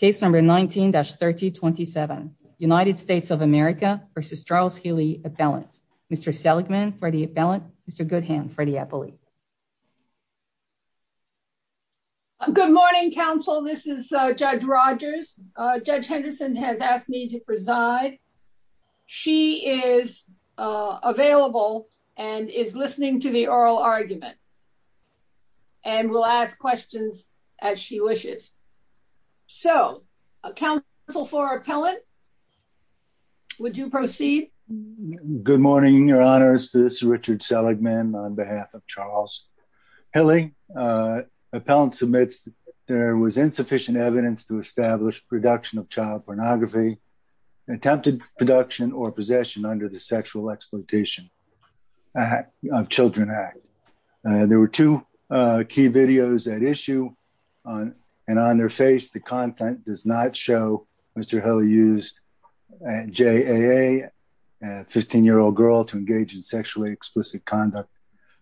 Appellant. Case number 19-3027 United States of America versus Charles Hillie Appellant. Mr. Seligman, Freddie Appellant, Mr. Goodham, Freddie Appellate. Good morning, Council. This is Judge Rogers. Judge Henderson has asked me to preside. She is available and is listening to the oral argument. And will ask questions as she wishes. So, Council for Appellant, would you proceed? Good morning, Your Honors. This is Richard Seligman on behalf of Charles Hillie. Appellant submits that there was insufficient evidence to establish production of child pornography, attempted production or possession under the Sexual Exploitation of Children Act. There were two key videos at issue. And on their face, the content does not show Mr. Hillie used JAA, a 15-year-old girl, to engage in sexually explicit conduct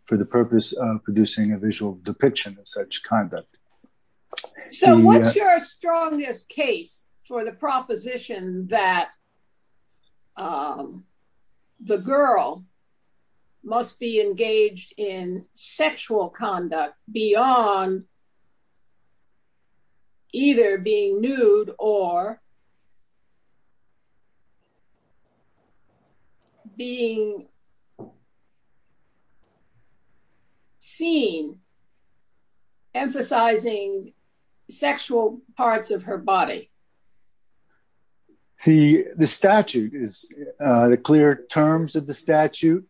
for the purpose of producing a visual depiction of such conduct. So, what's your strongest case for the proposition that the girl must be engaged in sexual conduct beyond either being nude or being seen emphasizing sexual parts of her body? The statute, the clear terms of the statute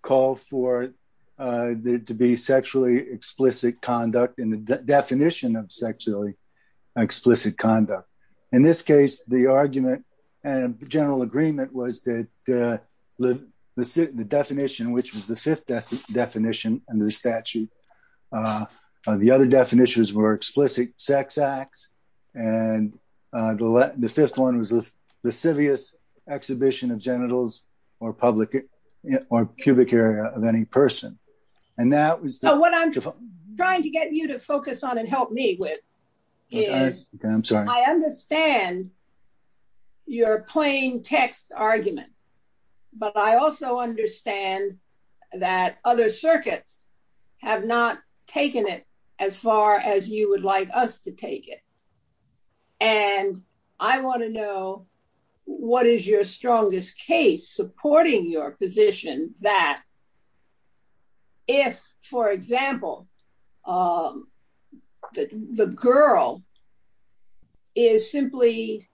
call for there to be sexually explicit conduct in the definition of sexually explicit conduct. In this case, the argument and general agreement was that the definition, which was the fifth definition under the statute, the other definitions were explicit sex acts and the fifth one was the lascivious exhibition of genitals or pubic area of any person. What I'm trying to get you to focus on and help me with is I understand your plain text argument but I also understand that other circuits have not taken it as far as you would like us to take it. And I want to know what is your strongest case supporting your position that if, for example, the girl is simply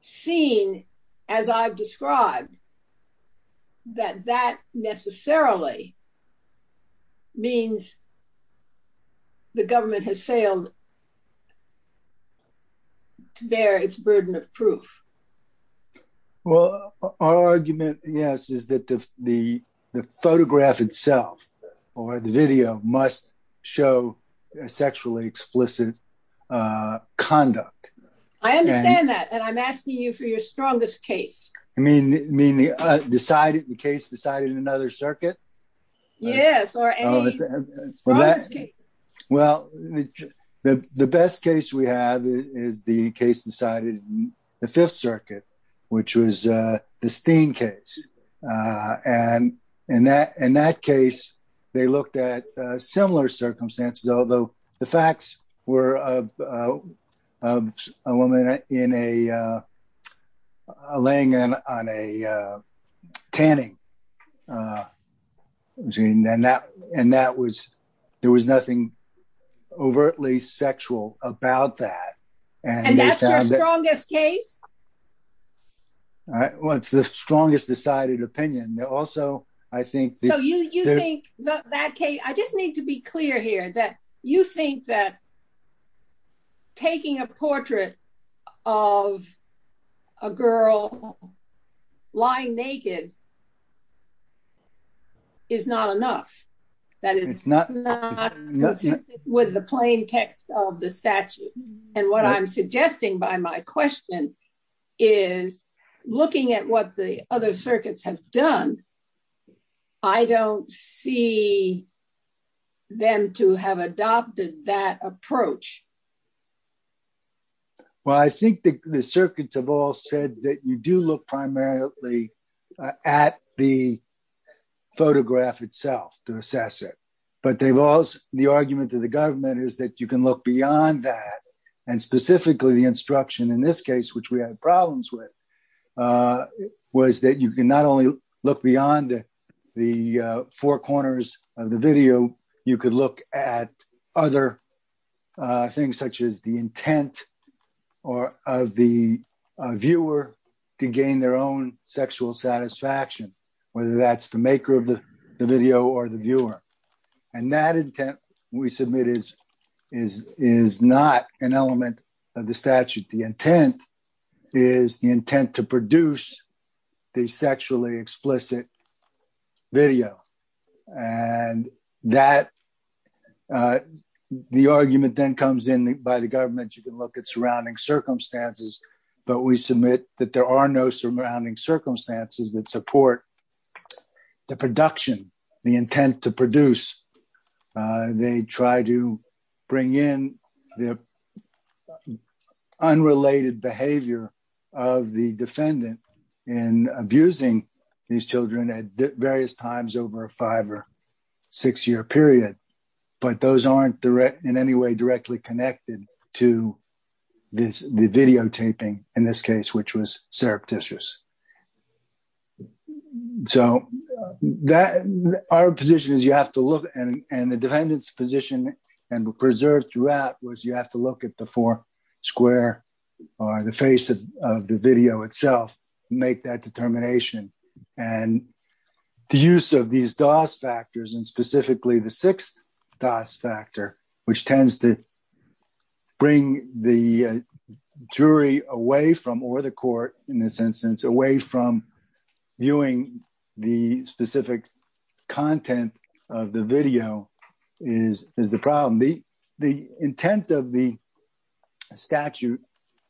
seen, as I've described that that necessarily means the government has failed to bear its burden of proof? Well, our argument, yes, is that the photograph itself or the video must show sexually explicit conduct. I understand that and I'm asking you for your strongest case. You mean the case decided in another circuit? Yes, or any strongest case. Well, the best case we have is the case decided in the Fifth Circuit, which was the Steen case. In that case, they looked at similar circumstances, although the facts were of a woman laying on a tanning machine and there was nothing overtly sexual about that. And that's your strongest case? Well, it's the strongest decided opinion. I just need to be clear here that you think that taking a portrait of a girl lying naked is not enough, that it's not consistent with the plain text of the statute. And what I'm suggesting by my question is looking at what the other circuits have done, I don't see them to have adopted that approach. Well, I think the circuits have all said that you do look primarily at the photograph itself to assess it. But the argument to the government is that you can look beyond that, and specifically the instruction in this case, which we had problems with, was that you can not only look beyond the four corners of the video, you could look at other things such as the intent of the viewer to gain their own sexual satisfaction, whether that's the maker of the video or the viewer. And that intent, we submit, is not an element of the statute. The intent is the intent to produce the sexually explicit video. And that the argument then comes in by the government you can look at surrounding circumstances, but we submit that there are no surrounding circumstances that support the production, the intent to produce. They try to bring in the unrelated behavior of the defendant in abusing these children at various times over a five or six year period. But those aren't in any way directly connected to the videotaping in this case, which was surreptitious. So that our position is you have to look, and the defendant's position and preserved throughout was you have to look at the four square or the face of the video itself, make that determination. And the use of these DOS factors and specifically the sixth DOS factor, which tends to bring the jury away from or the court in this instance away from viewing the specific content of the video is the problem. The intent of the statute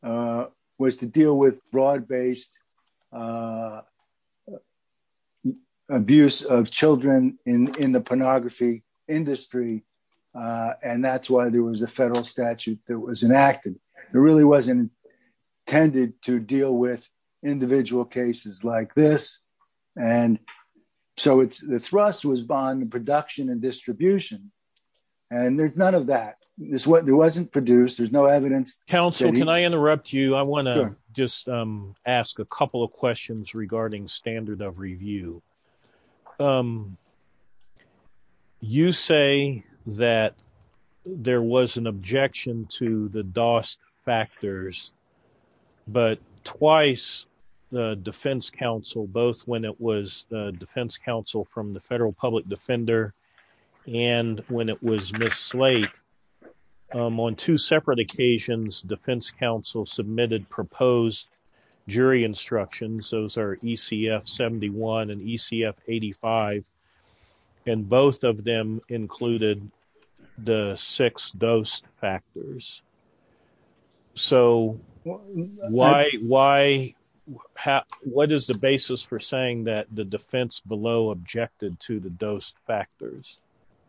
was to deal with broad based abuse of children in the pornography industry. And that's why there was a federal statute that was enacted. There really wasn't intended to deal with individual cases like this. And so the thrust was bond production and distribution. And there's none of that. There wasn't produced. There's no evidence. I want to just ask a couple of questions regarding standard of review. You say that there was an intent to use the six DOS factors, but twice the defense counsel, both when it was defense counsel from the federal public defender and when it was Ms. Slate. On two separate occasions, defense counsel submitted proposed jury instructions. Those are ECF 71 and ECF 85. And both of them included the six DOS factors. So why what is the basis for saying that the defense below objected to the DOS factors?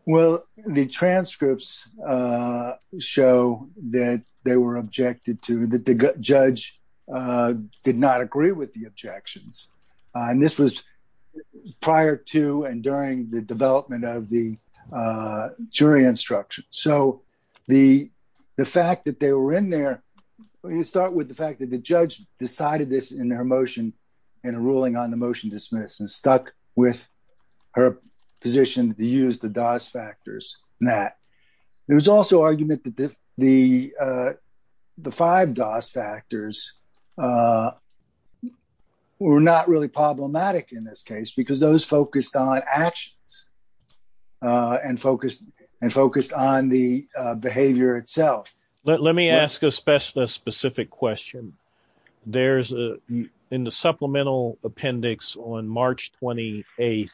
Well, the transcripts show that they were objected to that the judge did not agree with the objections. And this was prior to and during the development of the jury instruction. So the fact that they were in there, you start with the fact that the judge decided this in their motion in a ruling on the motion dismiss and stuck with her position to use the DOS factors in that. There was also argument that the the five DOS factors were not really problematic in this case because those focused on actions and focused on the behavior itself. Let me ask a specialist specific question. There's in the supplemental appendix on March 28th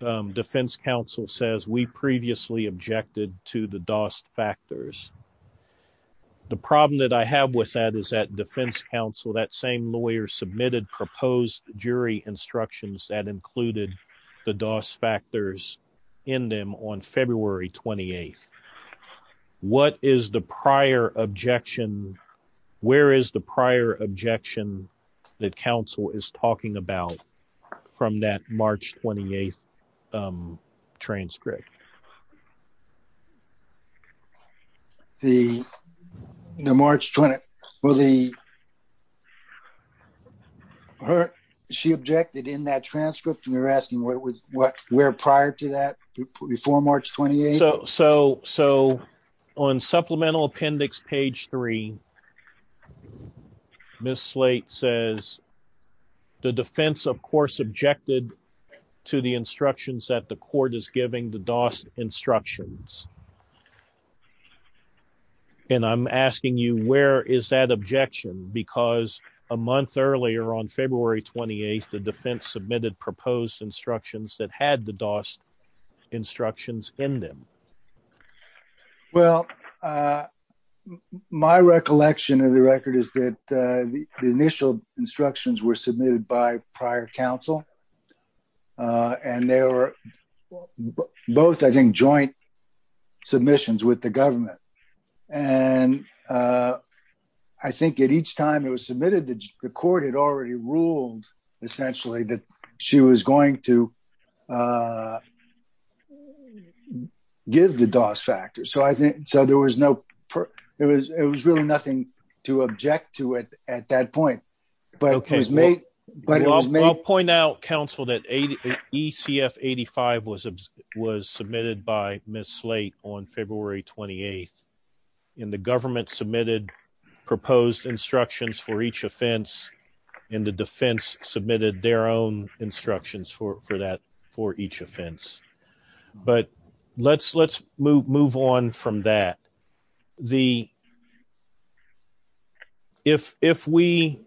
defense counsel says we previously objected to the DOS factors. The problem that I have with that is that defense counsel, that same lawyer submitted proposed jury instructions that included the DOS factors in them on February 28th. What is the prior objection? Where is the prior objection that counsel is talking about from that March 28th transcript? The March 20th. She objected in that transcript and you're asking where prior to that before March 28th? So on supplemental appendix page three, Ms. Slate says the defense of course objected to the DOS instructions. And I'm asking you where is that objection because a month earlier on February 28th, the defense submitted proposed instructions that had the DOS instructions in them. Well, my recollection of the record is that the initial instructions were submitted by prior counsel and they were both I think joint submissions with the government. I think at each time it was submitted, the court had already ruled essentially that she was going to give the DOS factors. It was really nothing to object to at that point. Okay. I'll point out counsel that ECF 85 was submitted by Ms. Slate on February 28th and the government submitted proposed instructions for each offense and the defense submitted their own instructions for that for each offense. But let's move on from that. If we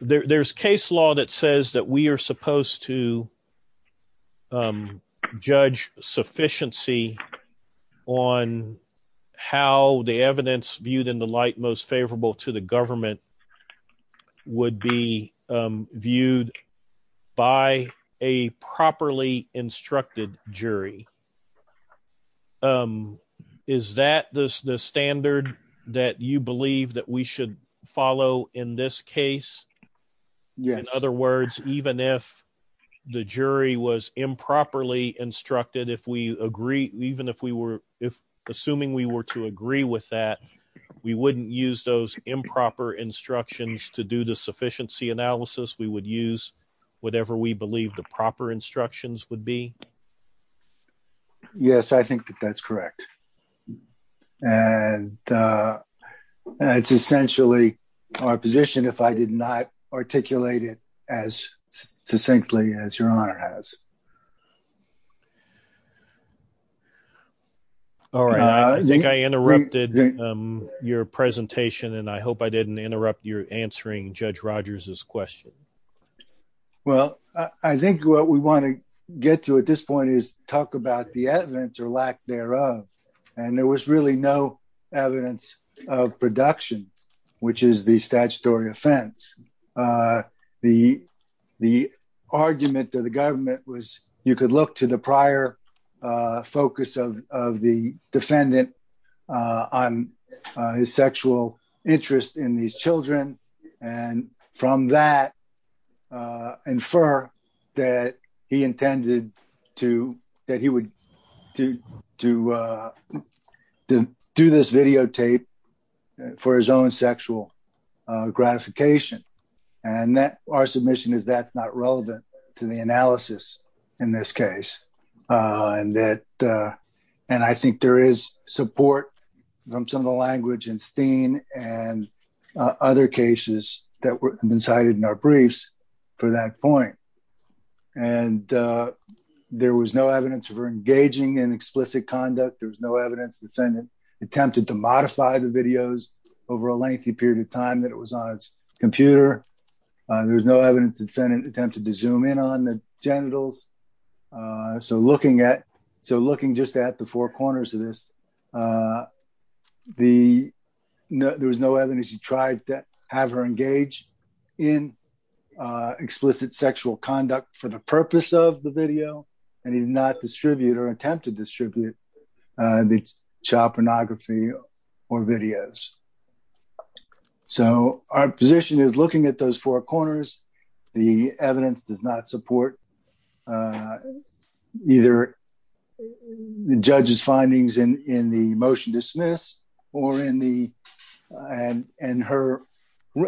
there's case law that says that we are supposed to judge sufficiency on how the evidence viewed in the light most favorable to the government would be viewed by a properly instructed jury. Is that the standard that you believe that we should follow in this case? Yes. In other words, even if the jury was improperly instructed, if we agree, even if we were assuming we were to agree with that, we wouldn't use those improper instructions to do the sufficiency analysis. We would use whatever we believe the proper instructions would be. Yes, I think that that's correct. And it's essentially our position if I did not articulate it as succinctly as your honor has. All right. I think I interrupted your presentation and I hope I didn't interrupt your answering Judge Rogers's question. Well, I think what we want to get to at this point is talk about the evidence or lack thereof. And there was really no evidence of production, which is the statutory offense. The argument of the government was you could look to the prior focus of the defendant on his sexual interest in these children. And from that infer that he intended to that he would do to do this videotape for his own sexual gratification. And that our submission is that's not relevant to the analysis in this case. And that and I think there is support from some of the language and other cases that have been cited in our briefs for that point. And there was no evidence for engaging in explicit conduct. There was no evidence defendant attempted to modify the videos over a lengthy period of time that it was on its computer. There was no evidence defendant attempted to zoom in on the genitals. So looking at so looking just at the four corners of this there was no evidence he tried to have her engage in explicit sexual conduct for the purpose of the video and he did not distribute or attempt to distribute the child pornography or videos. So our position is looking at those four corners. The evidence does not support either the judge's findings in the motion dismiss or in the and her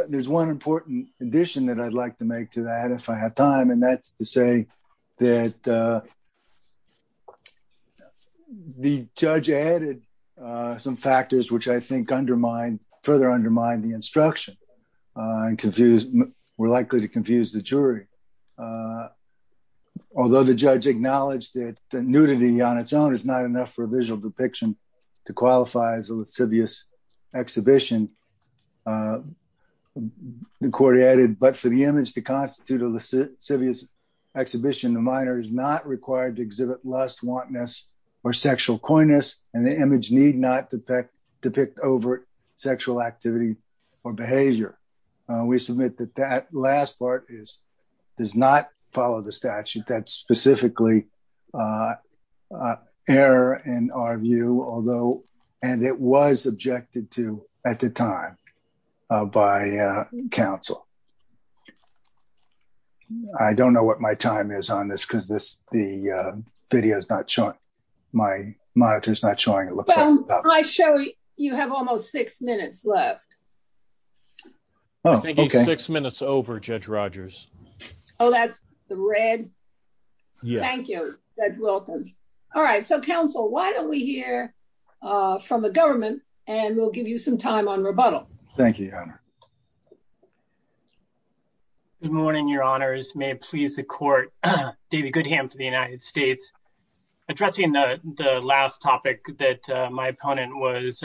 there's one important addition that I'd like to make to that if I have time and that's to say that the judge added some factors which I think undermine further undermine the instruction and we're likely to confuse the jury although the judge acknowledged that the nudity on its own is not enough for a visual depiction to qualify as a lascivious exhibition. The court added but for the image to constitute a lascivious exhibition the minor is not required to exhibit lust wantonness or sexual coyness and the image need not depict depict overt sexual activity or behavior. We submit that that last part is does not follow the statute that's specifically error in our view although and it was objected to at the time by counsel. I don't know what my time is on this because this the video is not showing my monitors not showing it looks like I show you have almost six minutes left. Six minutes over Judge Rogers. Oh, that's the red. Thank you. Welcome. All right. So counsel, why don't we hear from the government and we'll give you some time on rebuttal. Thank you. Good morning. Your honors may please the court David Goodham for the United States addressing the last topic that my opponent was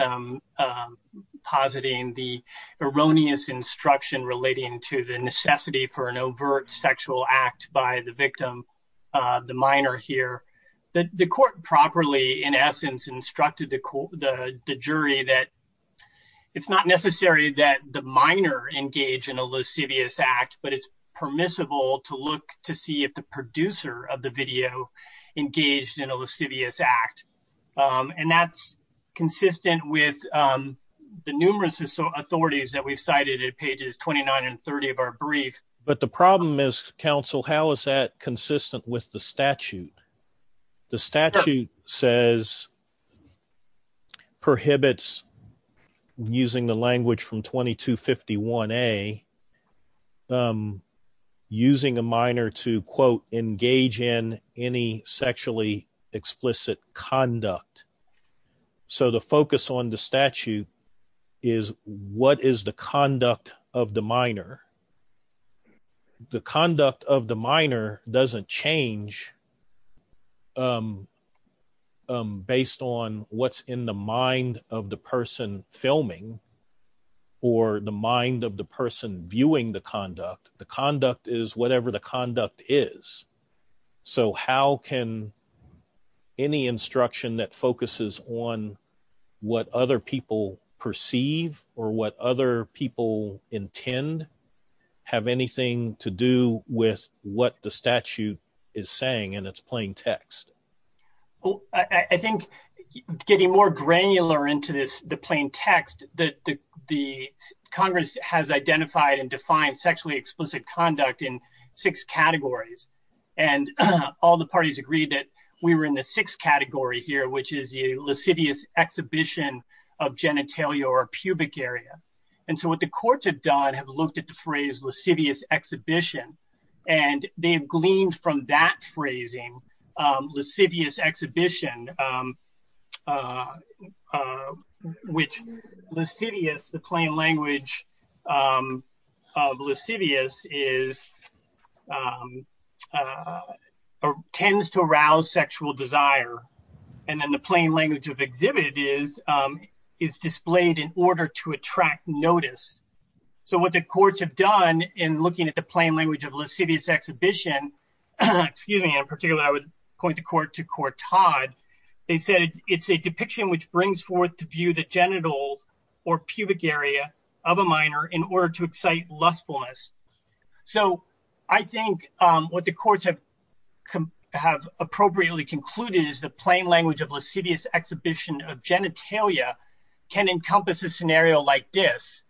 positing the erroneous instruction relating to the necessity for an overt sexual act by the victim the minor here that the court properly in essence instructed the jury that it's not necessary that the minor engage in a lascivious act but it's permissible to look to see if the producer of the video engaged in a lascivious act and that's consistent with the numerous authorities that we've cited it pages 29 and 30 of our brief but the problem is council how is that consistent with the statute the statute says prohibits using the language from 22 51 a using a minor to quote engage in any sexually explicit conduct so the focus on the statute is what is the conduct of the minor the conduct of the minor doesn't change based on what's in the mind of the person filming or the mind of the person viewing the conduct the conduct is whatever the conduct is so how can any instruction that focuses on what other people perceive or what other people intend have anything to do with what the statute is saying and it's plain text I think getting more granular into this the plain text that the Congress has identified and defined sexually explicit conduct in six categories and all the parties agreed that we were in the sixth category here which is the lascivious exhibition of genitalia or pubic area and so what the courts have done have looked at the phrase lascivious exhibition and they have gleaned from that phrasing lascivious exhibition which lascivious the plain language of lascivious is or tends to arouse sexual desire and then the plain language of exhibited is is displayed in order to attract notice so what the courts have done in looking at the plain language of lascivious exhibition excuse me in particular I would point the court to court Todd they said it's a depiction which brings forth to view the genitals or pubic area of a minor in order to excite lustfulness so I think what the courts have appropriately concluded is the plain language of lascivious exhibition of genitalia can encompass a scenario like this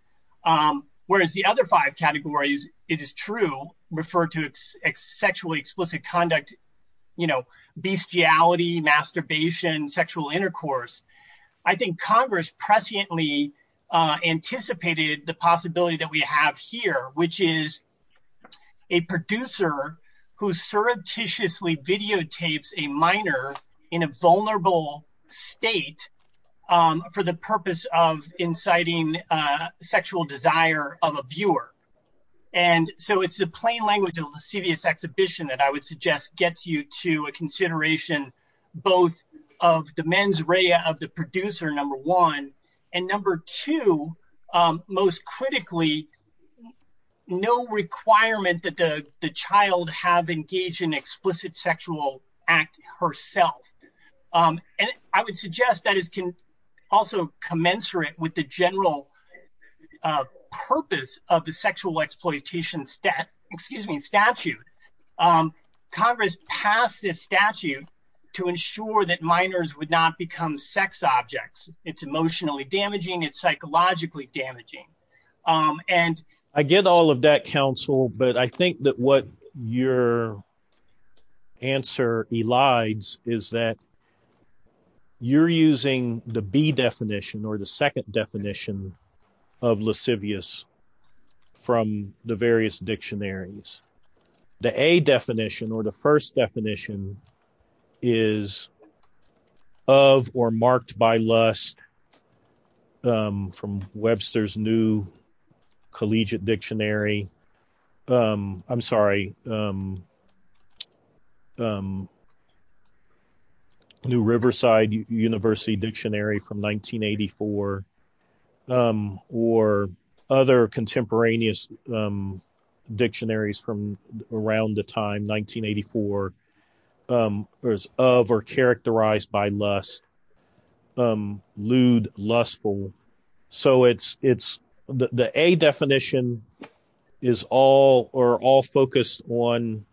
whereas the other five categories it is true refer to sexually explicit conduct you know bestiality, masturbation, sexual intercourse I think Congress presciently anticipated the possibility that we have here which is a producer who surreptitiously videotapes a minor in a vulnerable state for the purpose of inciting sexual desire of a viewer and so it's the plain language of lascivious exhibition that I would suggest gets you to a consideration both of the mens rea of the producer number one and number two most critically no requirement that the child have engaged in explicit sexual act herself and I would suggest that is also commensurate with the general purpose of the sexual exploitation statute Congress passed this statute to ensure that minors would not become sex objects it's emotionally damaging it's psychologically damaging and I get all of that counsel but I think that what your answer elides is that you're using the B definition or the second definition of lascivious from the various dictionaries the A definition or the first definition is of or marked by lust from Webster's new collegiate dictionary I'm sorry new Riverside University dictionary from 1984 or other contemporaneous dictionaries from around the time 1984 of or characterized by lust lewd lustful so it's the A definition is all focused on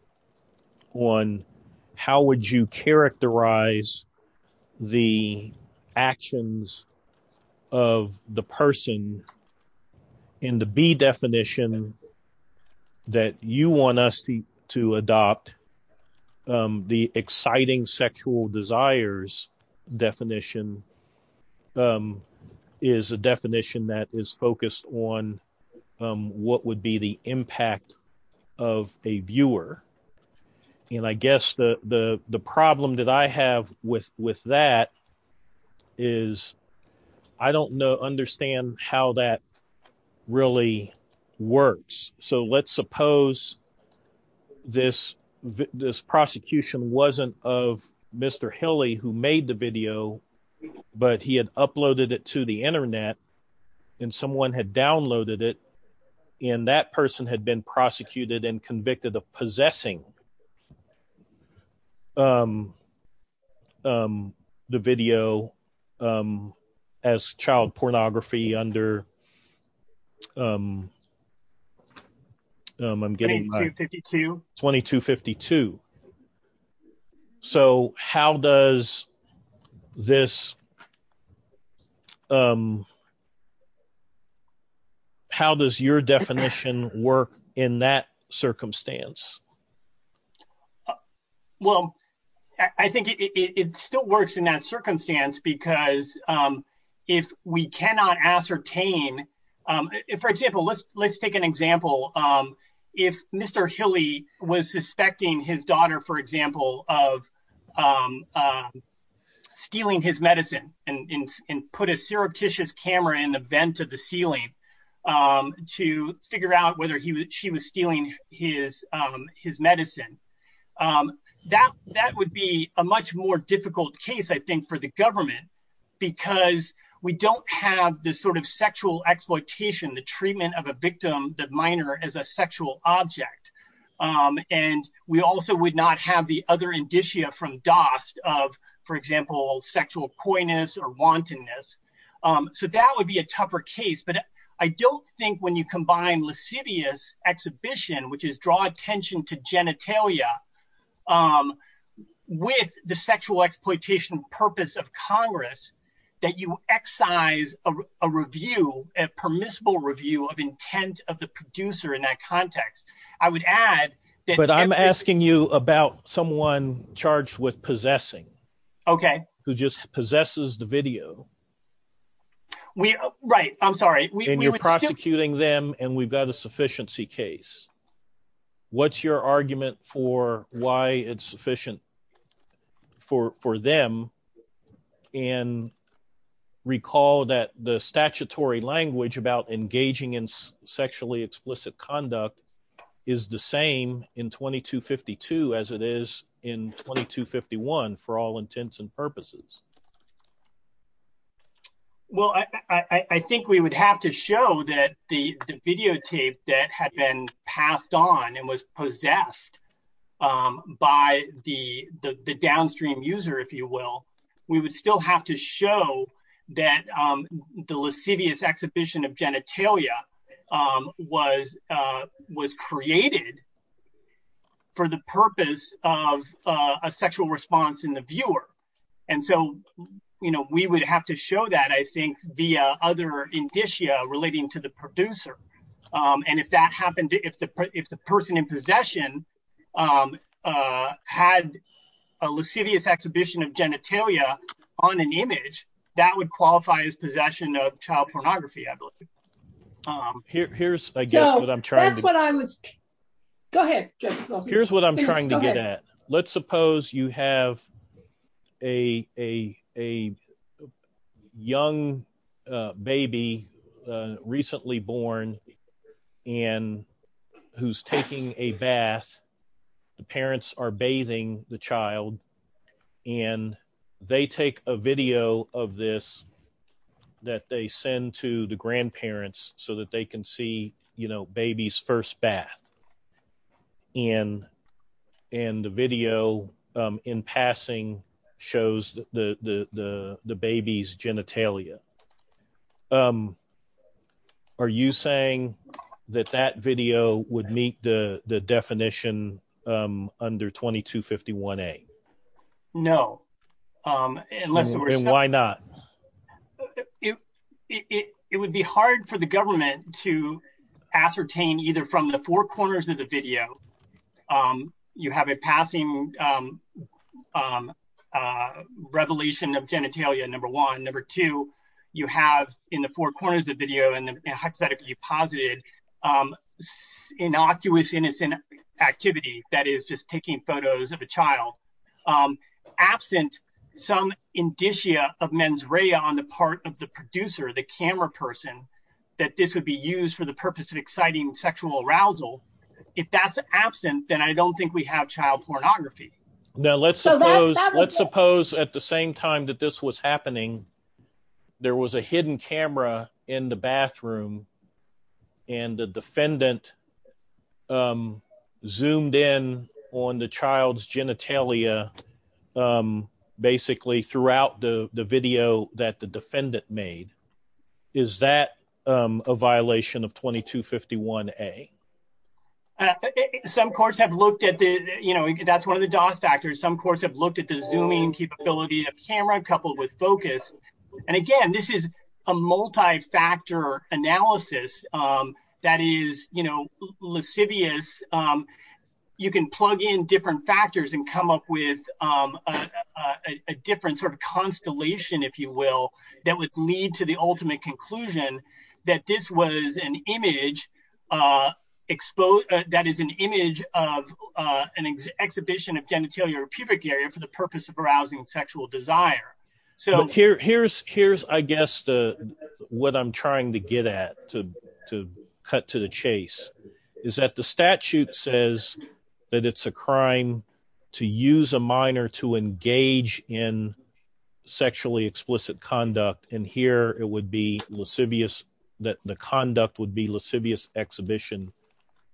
how would you characterize the actions of the person in the B definition that you want us to adopt the exciting sexual desires definition is a definition that is focused on what would be the impact of a viewer and I guess the problem that I have with that is I don't know understand how that really works so let's suppose this prosecution wasn't of Mr. Hilly who made the video but he had uploaded it to the internet and someone had downloaded it and that person had been prosecuted and convicted of possessing the video as child pornography under I'm getting 2252 so how does this how does your definition work in that circumstance well I think it still works in that circumstance because if we cannot ascertain for example let's take an example if Mr. Hilly was suspecting his daughter for example of stealing his medicine and put a surreptitious camera in the vent of the ceiling to figure out whether she was stealing his medicine that would be a much more difficult case I think for the government because we don't have this sort of sexual exploitation the treatment of a victim that minor as a sexual object and we also would not have the other indicia from Dost of for example sexual coyness or wantonness so that would be a tougher case but I don't think when you combine lascivious exhibition which is draw attention to genitalia with the sexual exploitation purpose of Congress that you excise a review a permissible review of intent of the producer in that context I would add that I'm asking you about someone charged with possessing okay who just possesses the video we right I'm sorry when you're prosecuting them and we've got a sufficiency case what's your argument for why it's sufficient for them and recall that the statutory language about engaging in sexually explicit conduct is the same in 2252 as it is in 2251 for all intents and purposes well I think we would have to show that the videotape that had been passed on and was possessed by the downstream user if you will we would still have to show that the lascivious exhibition of genitalia was was created for the purpose of a sexual response in the viewer and so you know we would have to show that I think the other indicia relating to the producer and if that happened if the if the person in possession had a lascivious exhibition of genitalia on an image that would qualify as possession of child pornography I believe here's I guess what I'm trying to here's what I'm trying to get at let's suppose you have a young baby recently born and who's taking a bath the parents are bathing the child and they take a video of this that they send to the grandparents so that they can see baby's first bath and the video in passing shows the baby's genitalia are you saying that that video would meet the definition under 2251A? No and why not? it would be hard for the government to ascertain either from the four corners of the video you have a passing revelation of genitalia number one number two you have in the four corners of the video you posited innocuous innocent activity that is just taking photos of a child absent some indicia of mens rea on the part of the producer the camera person that this would be used for the purpose of exciting sexual arousal if that's absent then I don't think we have child pornography. Now let's suppose at the same time that this was happening there was a hidden camera in the bathroom and the defendant zoomed in on the child's genitalia basically throughout the video that the defendant made is that a violation of 2251A? some courts have looked at the you know that's one of the cause factors some courts have looked at the zooming capability of camera coupled with focus and again this is a multi-factor analysis that is you know lascivious you can plug in different factors and come up with a different sort of constellation if you will that would lead to the ultimate conclusion that this was an image that is an image of an exhibition of genitalia or pubic area for the purpose of arousing sexual desire. Here's I guess what I'm trying to get at to cut to the chase is that the statute says that it's a crime to use a minor to engage in sexually explicit conduct and here it would be lascivious that the conduct would be lascivious exhibition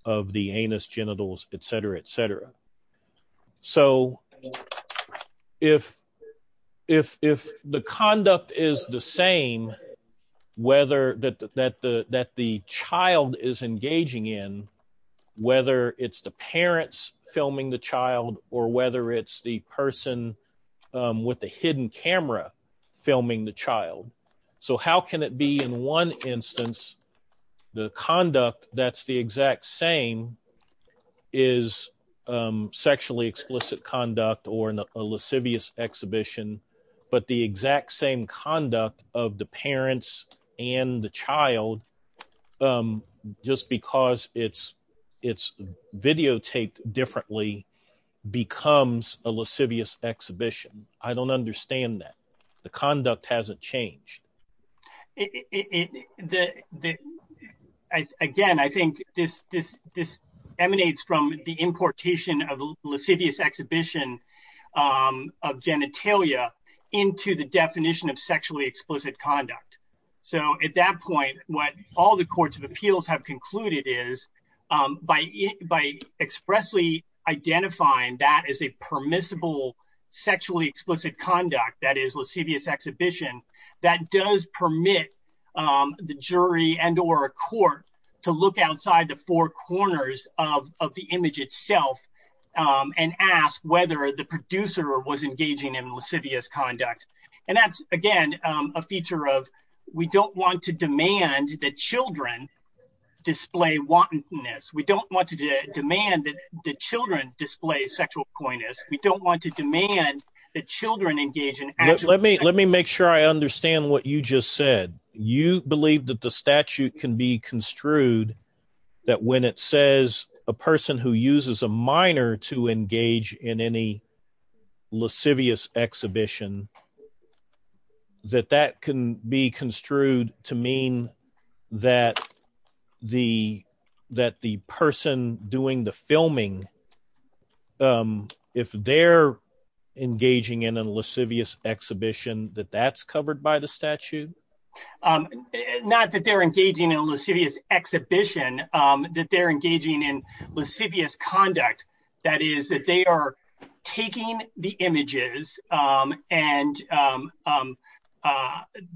of the genitalia etc. If the conduct is the same whether that the child is engaging in whether it's the parents filming the child or whether it's the person with the hidden camera filming the child. So how can it be in one instance the conduct that's the exact same is sexually explicit conduct or a lascivious exhibition but the exact same conduct of the parents and the child just because it's videotaped differently becomes a lascivious exhibition I don't understand that the conduct hasn't changed Again I think this emanates from the importation of lascivious exhibition of genitalia into the definition of sexually explicit conduct. At that point what all the courts of appeals have concluded is by expressly identifying that as a permissible sexually explicit conduct that is lascivious exhibition that does permit the jury and or a court to look outside the four corners of the image itself and ask whether the producer was engaging in lascivious conduct and that's again a feature of we don't want to demand that children display wantonness. We don't want to demand that children display sexual coyness. We don't want to demand that children engage in... Let me make sure I understand what you just said You believe that the statute can be construed that when it says a person who uses a minor to engage in any lascivious exhibition that that can be construed to mean that the person doing the filming if they're engaging in a lascivious exhibition that that's covered by the statute? Not that they're engaging in a lascivious exhibition, that they're engaging in lascivious conduct. That is that they are taking the images and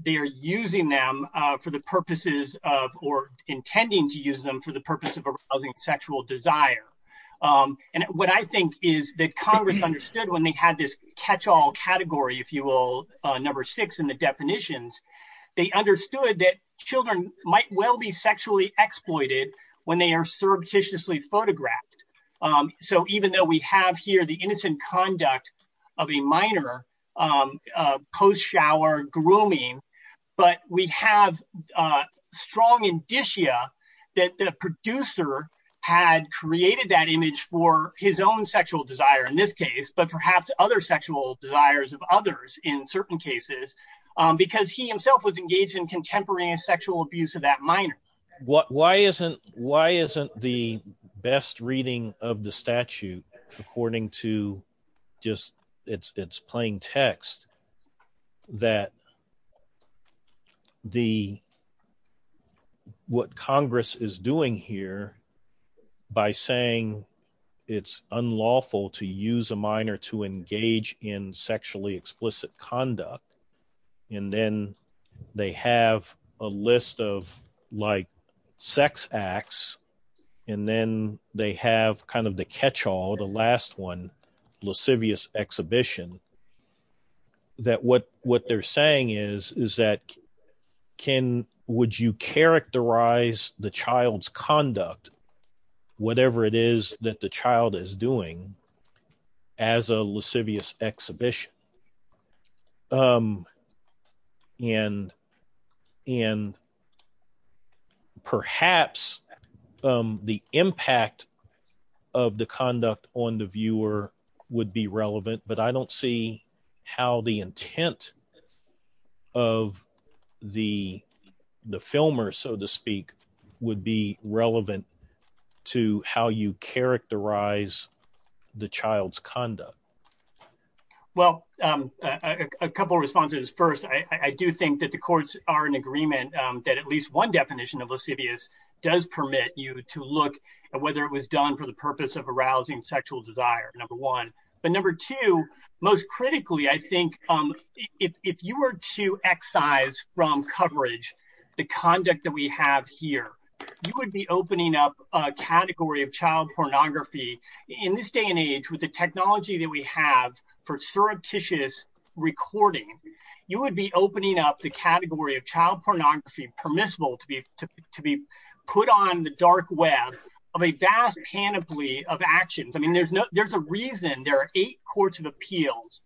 they're using them for the purposes of or intending to use them for the purpose of arousing sexual desire and what I think is that Congress understood when they had this catch-all category, if you will, number six in the definitions they understood that children might well be sexually exploited when they are surreptitiously photographed. So even though we have here the innocent conduct of a minor post-shower grooming, but we have strong indicia that the producer had created that image for his own sexual desire in this case, but perhaps other sexual desires of others in certain cases because he himself was engaged in contemporary sexual abuse of that minor. Why isn't the best reading of the statute according to just its plain text that the what Congress is doing here by saying it's unlawful to use a minor to engage in sexually explicit conduct and then they have a list of like sex acts and then they have kind of the catch-all the last one, lascivious exhibition that what they're saying is that would you characterize the child's conduct whatever it is that the child is doing as a lascivious exhibition? And perhaps the impact of the conduct on the viewer would be relevant but I don't see how the intent of the filmer, so to speak would be relevant to how you characterize the child's conduct. Well, a couple responses. First, I do think that the courts are in agreement that at least one definition of lascivious does permit you to look at whether it was done for the purpose of arousing sexual desire, number one, but number two, most critically, I think if you were to excise from coverage the conduct that we have here, you would be opening up a category of child pornography in this day and age with the technology that we have for surreptitious recording you would be opening up the category of child pornography permissible to be put on the dark web of a vast panoply of actions. I mean, there's a reason there are eight courts of appeals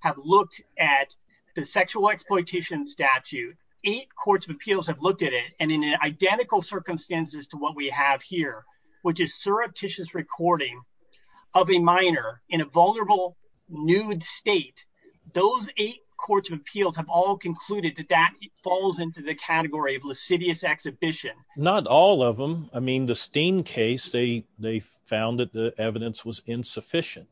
have looked at the sexual exploitation statute. Eight courts of appeals have looked at it and in identical circumstances to what we have here, which is surreptitious recording of a minor in a vulnerable, nude state those eight courts of appeals have all concluded that that falls into the category of lascivious exhibition. Not all of them I mean, the Steen case, they found that the evidence was insufficient.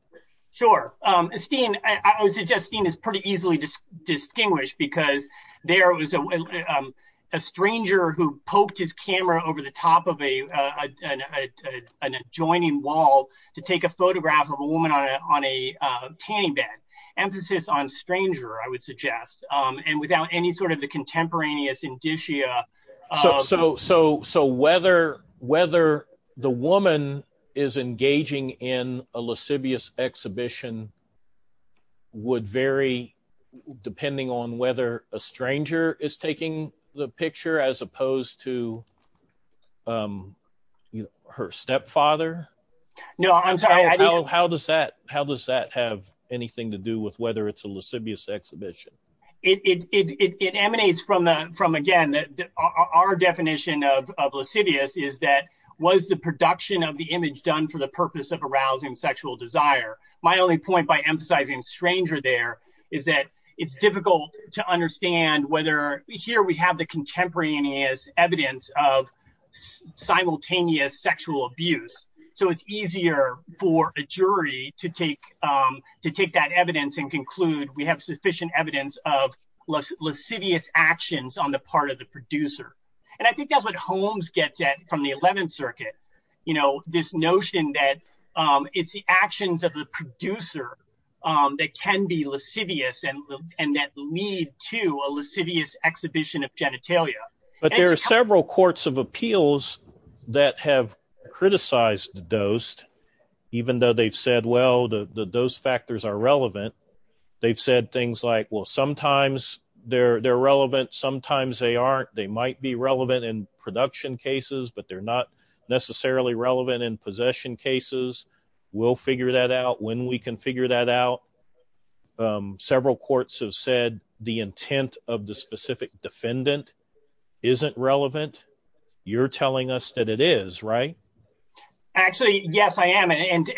Sure, Steen, I would suggest Steen is pretty easily distinguished because there was a stranger who poked his camera over the top of an adjoining wall to take a photograph of a woman on a tanning bed. Emphasis on stranger, I would suggest and without any sort of contemporaneous indicia So whether the woman is engaging in a lascivious exhibition would vary depending on whether a stranger is taking the picture as opposed to her stepfather How does that have anything to do with whether it's a lascivious exhibition? It emanates from, again, our definition of lascivious is that was the production of the image done for the purpose of arousing sexual desire. My only point by emphasizing stranger there is that it's difficult to understand whether here we have the contemporaneous evidence of simultaneous sexual abuse. So it's easier for a jury to take that evidence and conclude we have sufficient evidence of lascivious actions on the part of the producer This notion that it's the actions of the producer that can be lascivious and that lead to a lascivious exhibition of genitalia There are several courts of appeals that have criticized the dose, even though they've said, well, the dose factors are relevant. They've said things like, well, sometimes they're relevant, sometimes they aren't. They might be relevant in production cases, but they're not necessarily relevant in possession cases We'll figure that out when we can figure that out Several courts have said the intent of the specific defendant isn't relevant. You're telling us that it is, right? Actually, yes, I am. And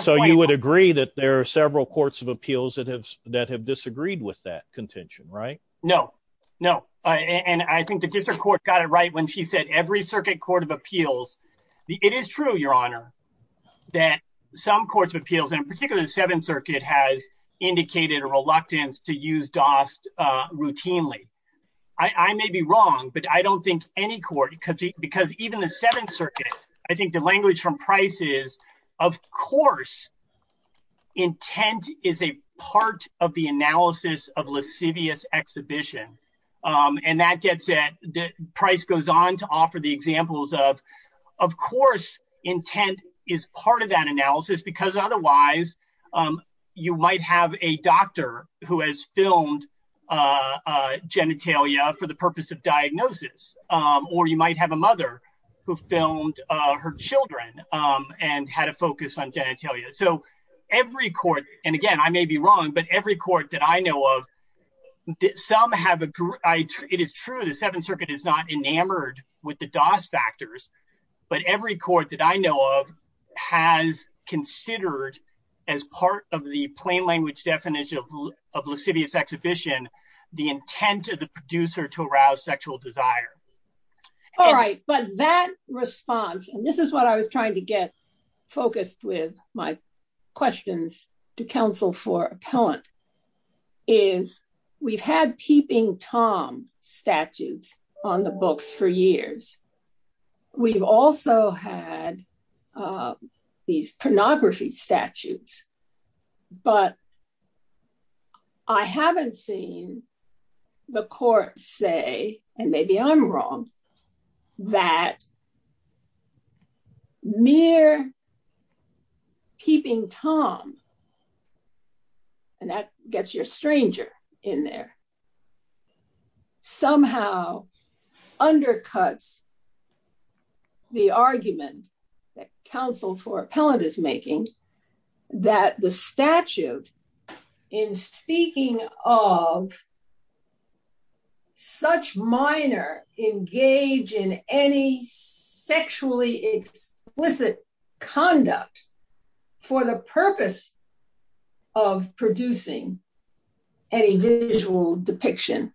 so you would agree that there are several courts of appeals that have disagreed with that contention, right? No, no. And I think the Seventh Circuit Court of Appeals, it is true, Your Honor, that some courts of appeals, and particularly the Seventh Circuit, has indicated a reluctance to use DOST routinely I may be wrong, but I don't think any court, because even the Seventh Circuit, I think the language from Price is, of course intent is a part of the analysis of lascivious exhibition, and that gets at Price goes on to offer the examples of, of course intent is part of that analysis, because otherwise you might have a doctor who has filmed genitalia for the purpose of diagnosis, or you might have a mother who filmed her children and had a focus on genitalia. So every court, and again, I may be wrong, but every court that I know of, some have it is true the Seventh Circuit is not enamored with the DOST factors, but every court that I know of has considered as part of the plain language definition of lascivious exhibition, the intent of the producer to arouse sexual desire. All right, but that response and this is what I was trying to get focused with my questions to counsel for appellant, is we've had peeping Tom statutes on the books for years. We've also had these pornography statutes, but I haven't seen the court say, and maybe I'm wrong that mere peeping Tom and that gets your stranger in there somehow undercuts the argument that counsel for appellant is making that the statute in speaking of such minor engage in any sexually explicit conduct for the purpose of producing any visual depiction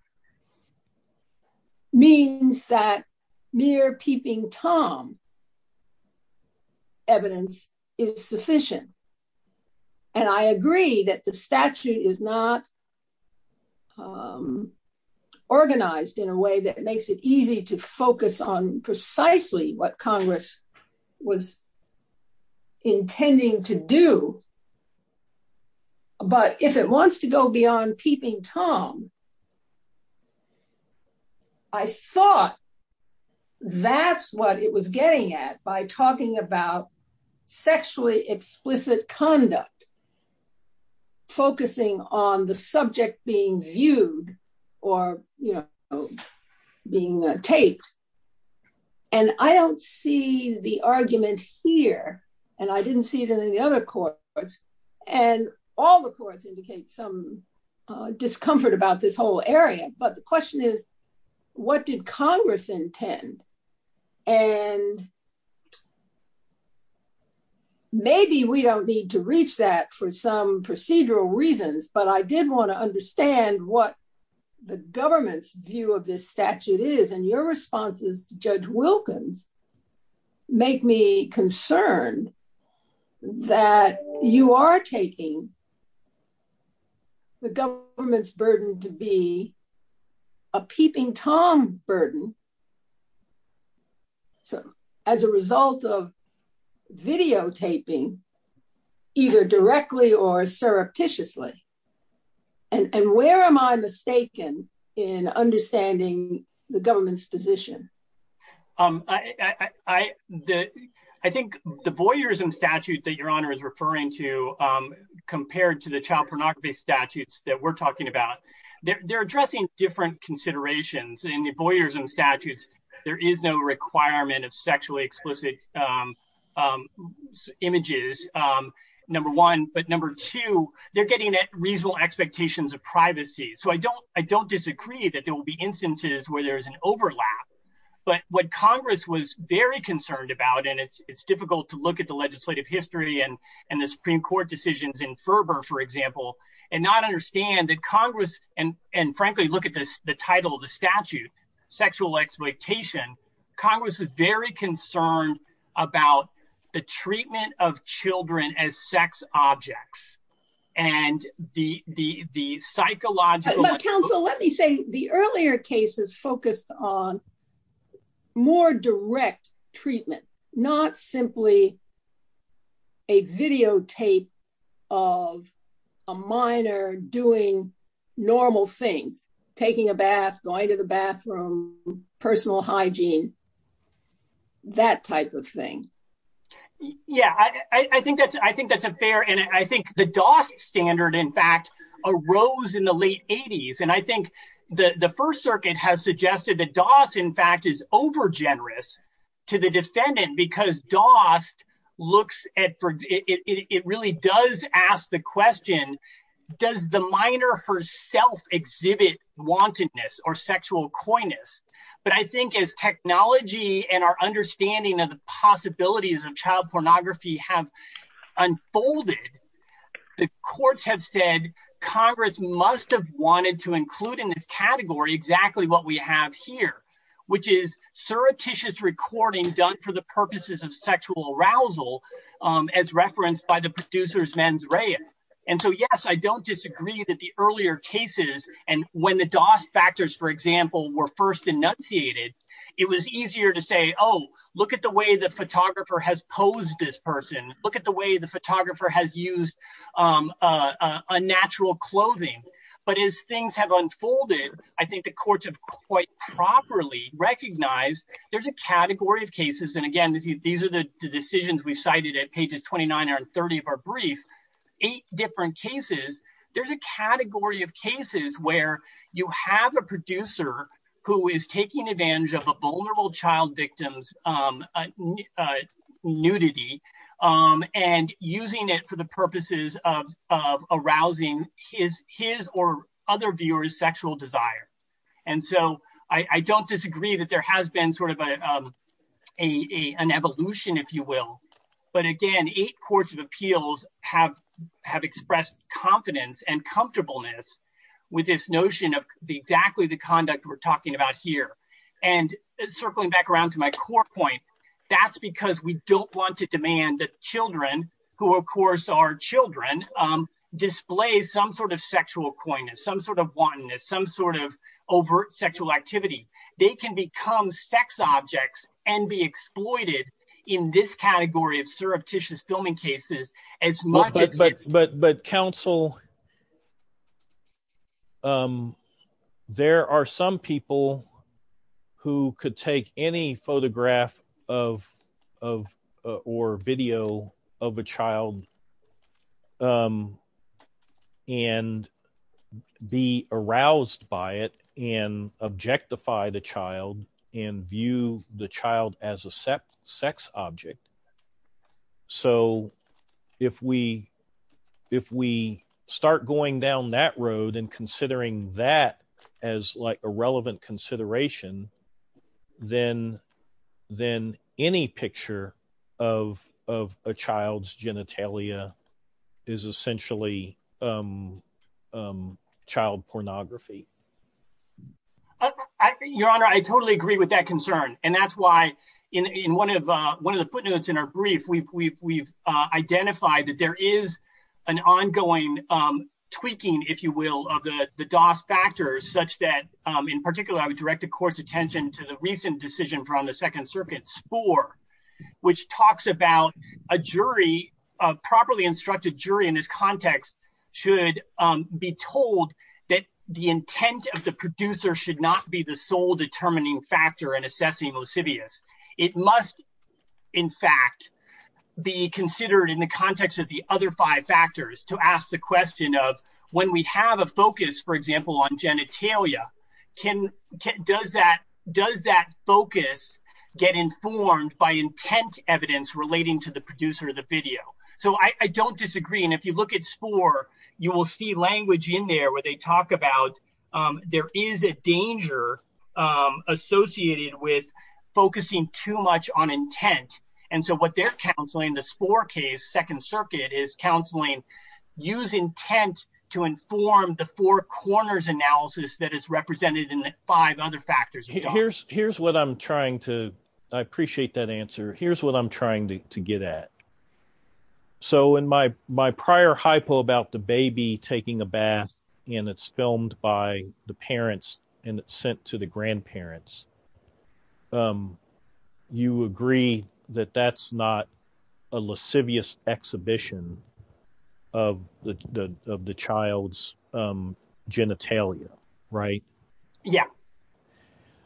means that mere peeping Tom evidence is sufficient and I agree that the statute is not organized in a way that makes it easy to focus on precisely what Congress was intending to do but if it wants to go beyond peeping Tom I thought that's what it was getting at by talking about sexually explicit conduct focusing on the subject being viewed or being taped and I don't see the argument here and I didn't see it in the other courts and all the courts indicate some discomfort about this whole area but the question is what did Congress intend and maybe we don't need to reach that for some procedural reasons but I did want to understand what the government's view of this statute is and your responses to Judge Wilkins make me concerned that you are taking the government's burden to be a peeping Tom burden as a result of videotaping either directly or surreptitiously and where am I finding the government's position? I think the voyeurism statute that your Honor is referring to compared to the child pornography statutes that we're talking about they're addressing different considerations in the voyeurism statutes there is no requirement of sexually explicit images number one but number two they're getting at reasonable expectations of privacy so I don't disagree that there will be instances where there is an overlap but what Congress was very concerned about and it's difficult to look at the legislative history and the Supreme Court decisions in Ferber for example and not understand that Congress and frankly look at the title of the statute sexual exploitation Congress was very concerned about the treatment of children as sex objects and the psychological counsel let me say the earlier cases focused on more direct treatment not simply a videotape of a minor doing normal things taking a bath going to the bathroom personal hygiene that type of thing yeah I think that's I think that's a fair and I think the rose in the late 80s and I think the First Circuit has suggested that Doss in fact is over generous to the defendant because Doss looks at it really does ask the question does the minor herself exhibit wantedness or sexual coyness but I think as technology and our understanding of the possibilities of child pornography have unfolded the courts have said Congress must have wanted to include in this category exactly what we have here which is surreptitious recording done for the purposes of sexual arousal as referenced by the producers mens rea and so yes I don't disagree that the earlier cases and when the Doss factors for example were first enunciated it was easier to say oh look at the way the photographer has posed this person look at the way the photographer has used unnatural clothing but as things have unfolded I think the courts have quite properly recognized there's a category of cases and again these are the decisions we cited at pages 29 and 30 of our brief eight different cases there's a category of cases where you have a producer who is taking advantage of a vulnerable child victims nudity and using it for the purposes of arousing his or other viewers sexual desire and so I don't disagree that there has been sort of a evolution if you will but again eight courts of appeals have expressed confidence and comfortableness with this notion of exactly the conduct we're talking about here and circling back around to my core point that's because we don't want to demand that children who of course are children display some sort of sexual poignancy some sort of wantonness some sort of overt sexual activity they can become sex objects and be exploited in this category of surreptitious filming cases as much but but but but counsel there are some people who could take any photograph of or video of a child and be aroused by it and objectify the child and view the child as a sex object so if we if we start going down that road and considering that as like a relevant consideration then then any picture of of a child's genitalia is essentially child pornography your honor I totally agree with that concern and that's why in one of one of the footnotes in our brief we've identified that there is an ongoing tweaking if you will of the the DOS factors such that in particular I would direct the court's attention to the recent decision from the Second Serpent Spore which talks about a jury a properly instructed jury in this context should be told that the intent of the producer should not be the sole determining factor in assessing lascivious it must in fact be considered in the context of the other five factors to ask the question of when we have a focus for example on genitalia can does that does that focus get informed by intent evidence relating to the producer of the video so I don't disagree and if you look at Spore you will see language in there where they talk about there is a danger associated with focusing too much on intent and so what they're counseling the Spore case in the second circuit is counseling use intent to inform the four corners analysis that is represented in the five other factors here's what I'm trying to I appreciate that answer here's what I'm trying to get at so in my prior hypo about the baby taking a bath and it's filmed by the parents and it's sent to the grandparents you agree that that's not a lascivious exhibition of the child's genitalia right yeah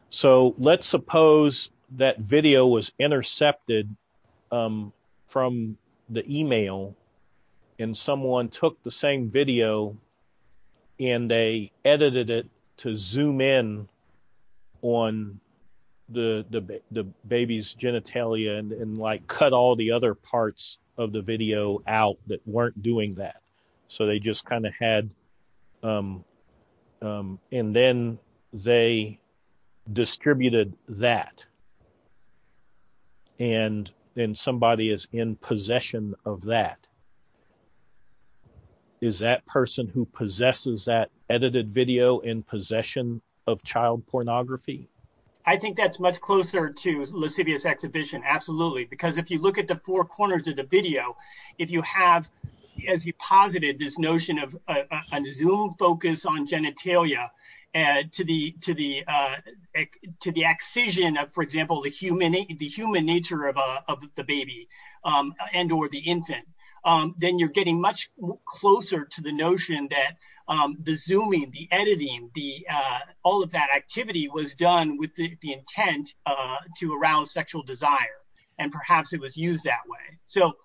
so let's suppose that video was intercepted from the email and someone took the same video and they edited it to zoom in on the baby's genitalia and like cut all the other parts of the video out that weren't doing that so they just kind of had and then they distributed that and then somebody is in possession of that is that person who possesses that edited video in possession of child pornography I think that's much closer to lascivious exhibition absolutely because if you look at the four corners of the video if you have as you posited this notion of a zoom focus on genitalia to the accession of for example the human nature of the baby and or the infant then you're getting much closer to the notion that the zooming the editing the all of that activity was done with the intent to arouse sexual desire and perhaps it was used that way so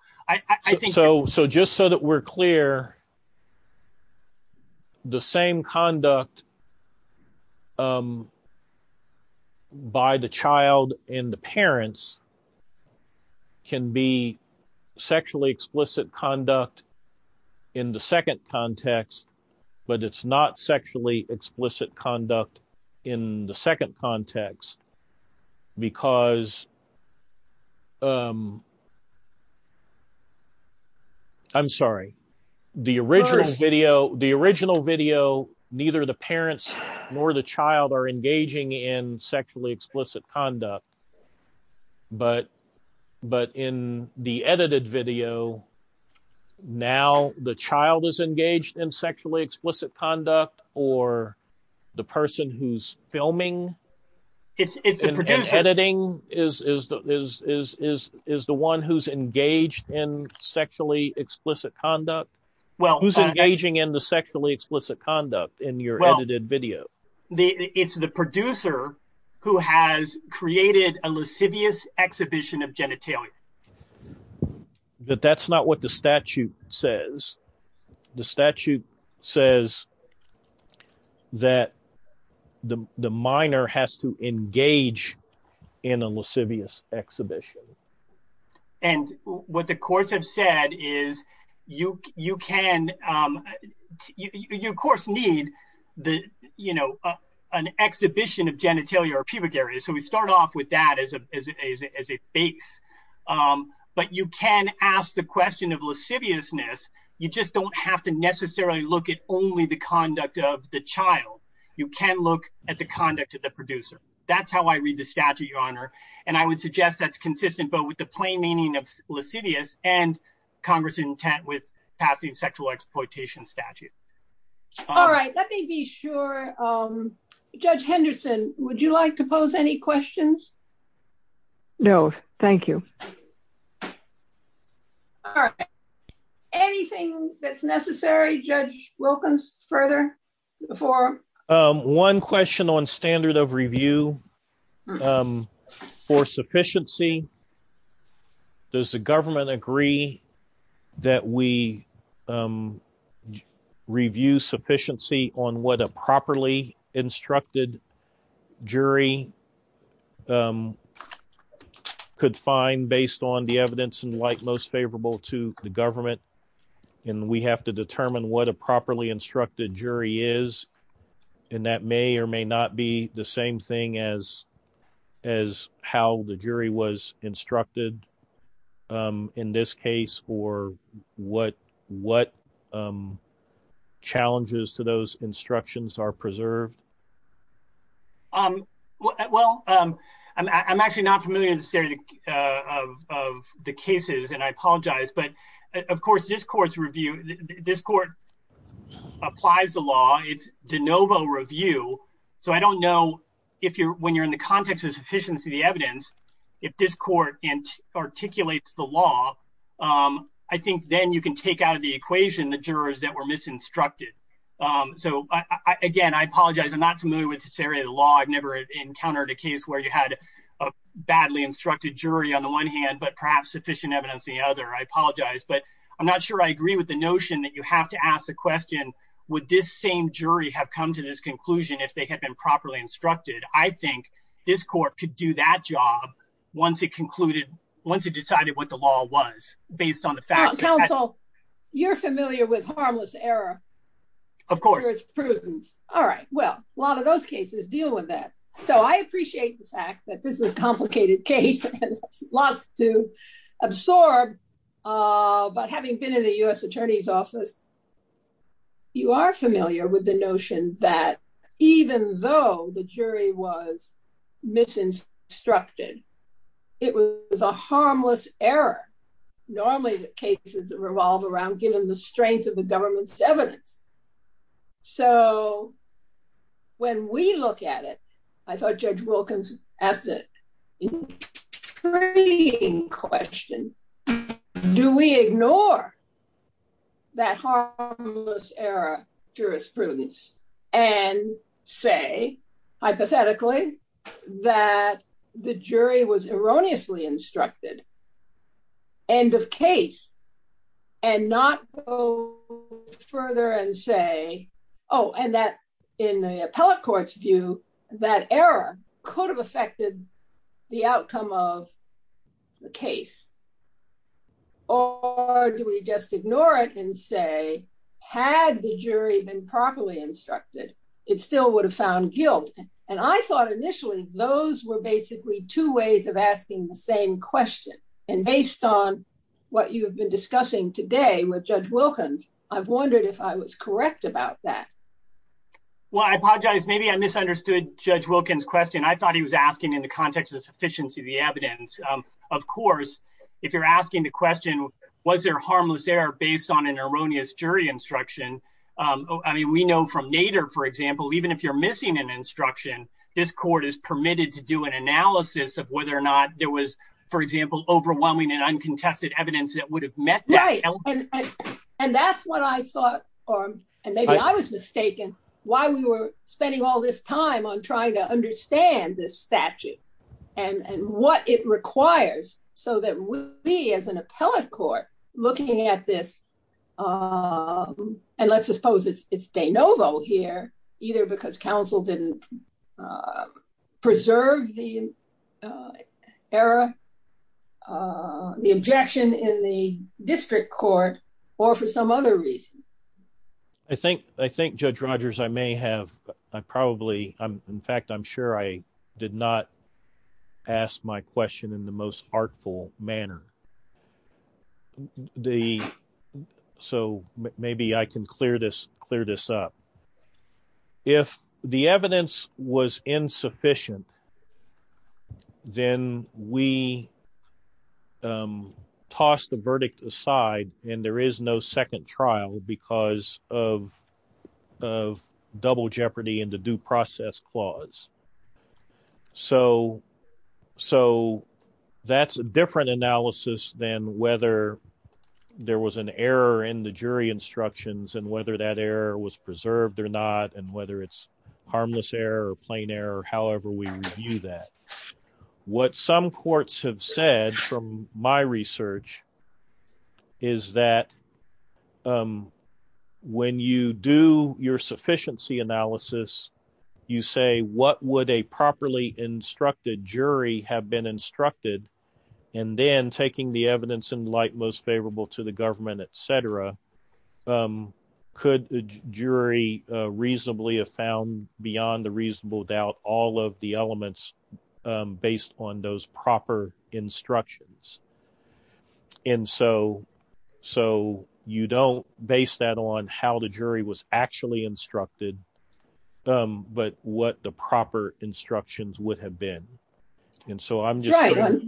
just so that we're clear the same conduct by the child and the parents can be sexually explicit conduct in the second context but it's not sexually explicit conduct in the second context because I'm sorry the original video the original video neither the parents nor the child are engaging in sexually explicit conduct but in the edited video now the child is engaged in sexually explicit conduct or the person who's filming it's the producer is the one who's engaged in sexually explicit conduct well who's engaging in the sexually explicit conduct in your edited video it's the producer who has created a lascivious exhibition of genitalia but that's not what the statute says the statute says that the the minor has to engage in a lascivious exhibition and what the courts have said is you you can you of course need the you know an exhibition of genitalia or pubic area so we start off with that as a as a base but you can ask the question of lasciviousness you just don't have to necessarily look at only the conduct of the child you can look at the conduct of the producer that's how I read the statute your honor and I would suggest that's consistent but with the plain meaning of lascivious and congress intent with passing sexual exploitation statute all right let me be sure um judge Henderson would you like to pose any questions no thank you all right anything that's necessary judge Wilkins further before one question on standard of review for sufficiency does the government agree that we review sufficiency on what a properly instructed jury um could find based on the evidence and like most favorable to the government and we have to determine what a properly instructed jury is and that may or may not be the same thing as as how the jury was instructed in this case or what what challenges to those instructions are preserved um well um I'm actually not familiar necessarily uh of of the cases and I apologize but of course this court's review this court applies the law it's de novo review so I don't know if you're when you're in the context of sufficiency the evidence if this court and articulates the law um I think then you can take out of the equation the jurors that were misinstructed um so I again I apologize I'm not familiar with this area of the law I've never encountered a case where you had a badly instructed jury on the one hand but perhaps sufficient evidence the other I apologize but I'm not sure I agree with the notion that you have to ask the question would this same jury have come to this conclusion if they had been properly instructed I think this court could do that job once it concluded once it decided what the law was based on the fact counsel you're familiar with harmless error of course prudence all right well a lot of those cases deal with that so I appreciate the fact that this is a complicated case lots to absorb uh but having been in the U.S. attorney's office you are familiar with the notion that even though the jury was misinstructed it was a harmless error normally the cases that revolve around given the strength of the government's evidence so when we look at it I thought Judge Wilkins asked a intriguing question do we ignore that harmless error jurisprudence and say hypothetically that the jury was erroneously instructed end of case and not go further and say oh and that in the appellate court's view that error could have affected the outcome of the case or do we just ignore it and say had the jury been properly instructed it still would have found guilt and I thought initially those were basically two ways of asking the same question and based on what you have been discussing today with Judge Wilkins I've wondered if I was correct about that well I apologize maybe I misunderstood Judge Wilkins question I thought he was asking in the context of sufficiency of the evidence of course if you're asking the question was there harmless error based on an erroneous jury instruction I mean we know from Nader for example even if you're missing an instruction this court is permitted to do an analysis of whether or not there was for example overwhelming and uncontested evidence that would have met that and that's what I thought maybe I was mistaken why we were spending all this time on trying to understand this statute and what it requires so that we as an appellate court looking at this and let's suppose it's de novo here either because counsel didn't preserve the error the objection in the district court or for some other reason I think Judge Rogers I may have probably in fact I'm sure I did not ask my question in the most artful manner so maybe I can clear this up if the evidence was insufficient then we toss the verdict aside and there is no second trial because of double jeopardy in the due process clause so that's a different analysis than whether there was an error in the jury instructions and whether that error was preserved or not and whether it's harmless error or plain error however we review that what some courts have said from my research is that when you do your sufficiency analysis you say what would a properly instructed jury have been instructed and then taking the evidence in light most favorable to the government etc. could the jury reasonably have found beyond a reasonable doubt all of the elements based on those proper instructions and so you don't base that on how the jury was actually instructed but what the proper instructions would have been and so I'm just trying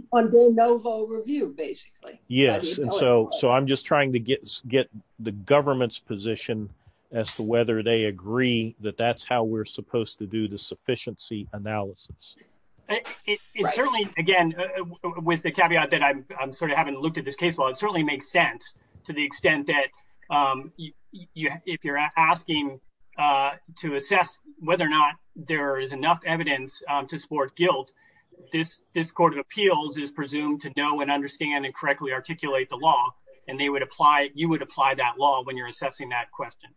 to get the government's position as to whether they agree that that's how we're supposed to do the sufficiency analysis it certainly again with the caveat that I'm sort of having to look at this case well it certainly makes sense to the extent that if you're asking to assess whether or not there is enough evidence to support guilt this court of appeals is presumed to know and understand and correctly articulate the law and you would apply that law when you're assessing that question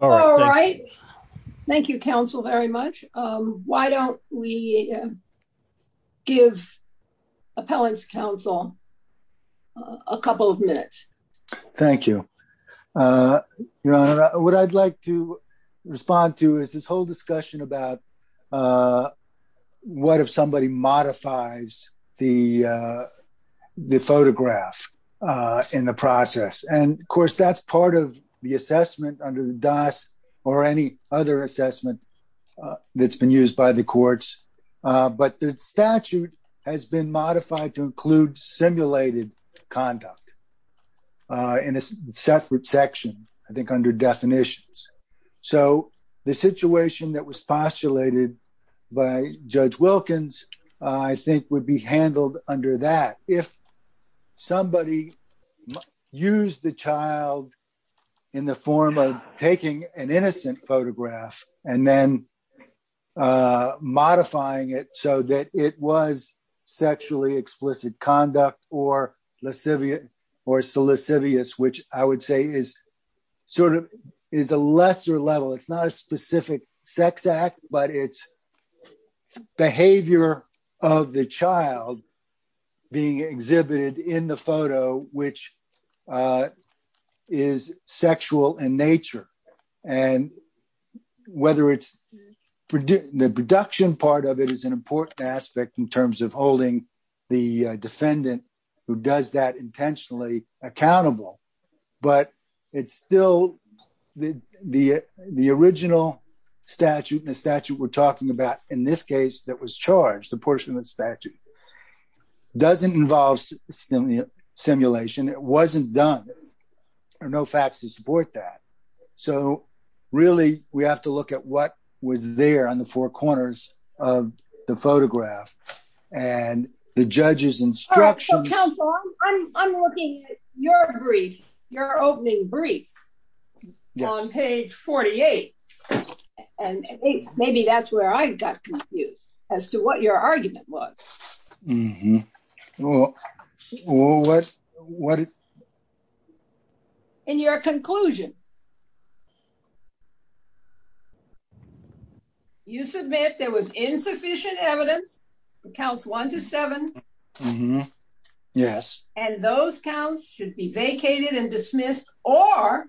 all right thank you counsel very much why don't we give appellants counsel a couple of minutes thank you your honor what I'd like to respond to is this whole discussion about what if somebody modifies the photograph in the process and of course that's part of the assessment under the dos or any other assessment that's been used by the courts but the statute has been modified to include simulated conduct in a separate section I think under definitions so the situation that was postulated by judge Wilkins I think would be handled under that if somebody used the child in the form of taking an innocent photograph and then modifying it so that it was sexually explicit conduct or lascivious which I would say is sort of is a lesser level it's not a specific sex act but it's the behavior of the child being exhibited in the photo which is sexual in nature and whether it's the production part of it is an important aspect in terms of holding the defendant who does that intentionally accountable but it's still the original statute the statute we're talking about in this case that was charged the portion of the statute doesn't involve simulation it wasn't done there are no facts to support that so really we have to look at what was there on the four corners of the photograph and the judges instructions I'm looking at your brief your opening brief on page 48 and maybe that's where I got confused as to what your argument was in your conclusion you submit there was insufficient evidence counts one to seven and those counts should be vacated and dismissed or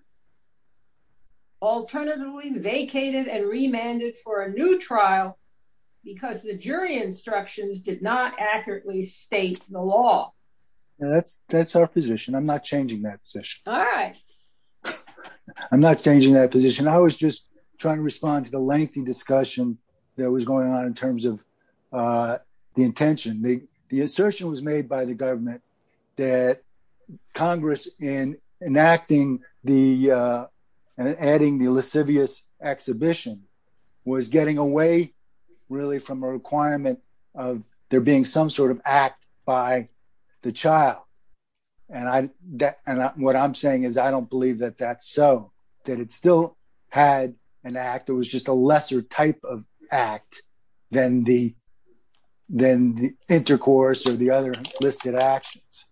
alternatively vacated and remanded for a new trial because the jury instructions did not accurately state the law that's our position I'm not changing that position I'm not changing that position I was just trying to respond to the lengthy discussion that was going on in terms of the intention the assertion was made by the government that Congress in enacting the adding the lascivious exhibition was getting away really from a requirement of there being some sort of act by the child and what I'm saying is I don't believe that that's so that it still had an act it was just a lesser type of act than the intercourse or the other listed actions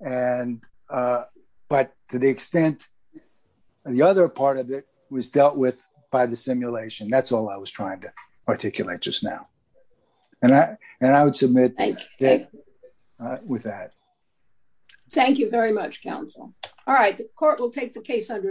and but to the extent the other part of it was dealt with by the simulation that's all I was trying to articulate just now and I would submit with that thank you very much counsel all right the court will take the case under advisement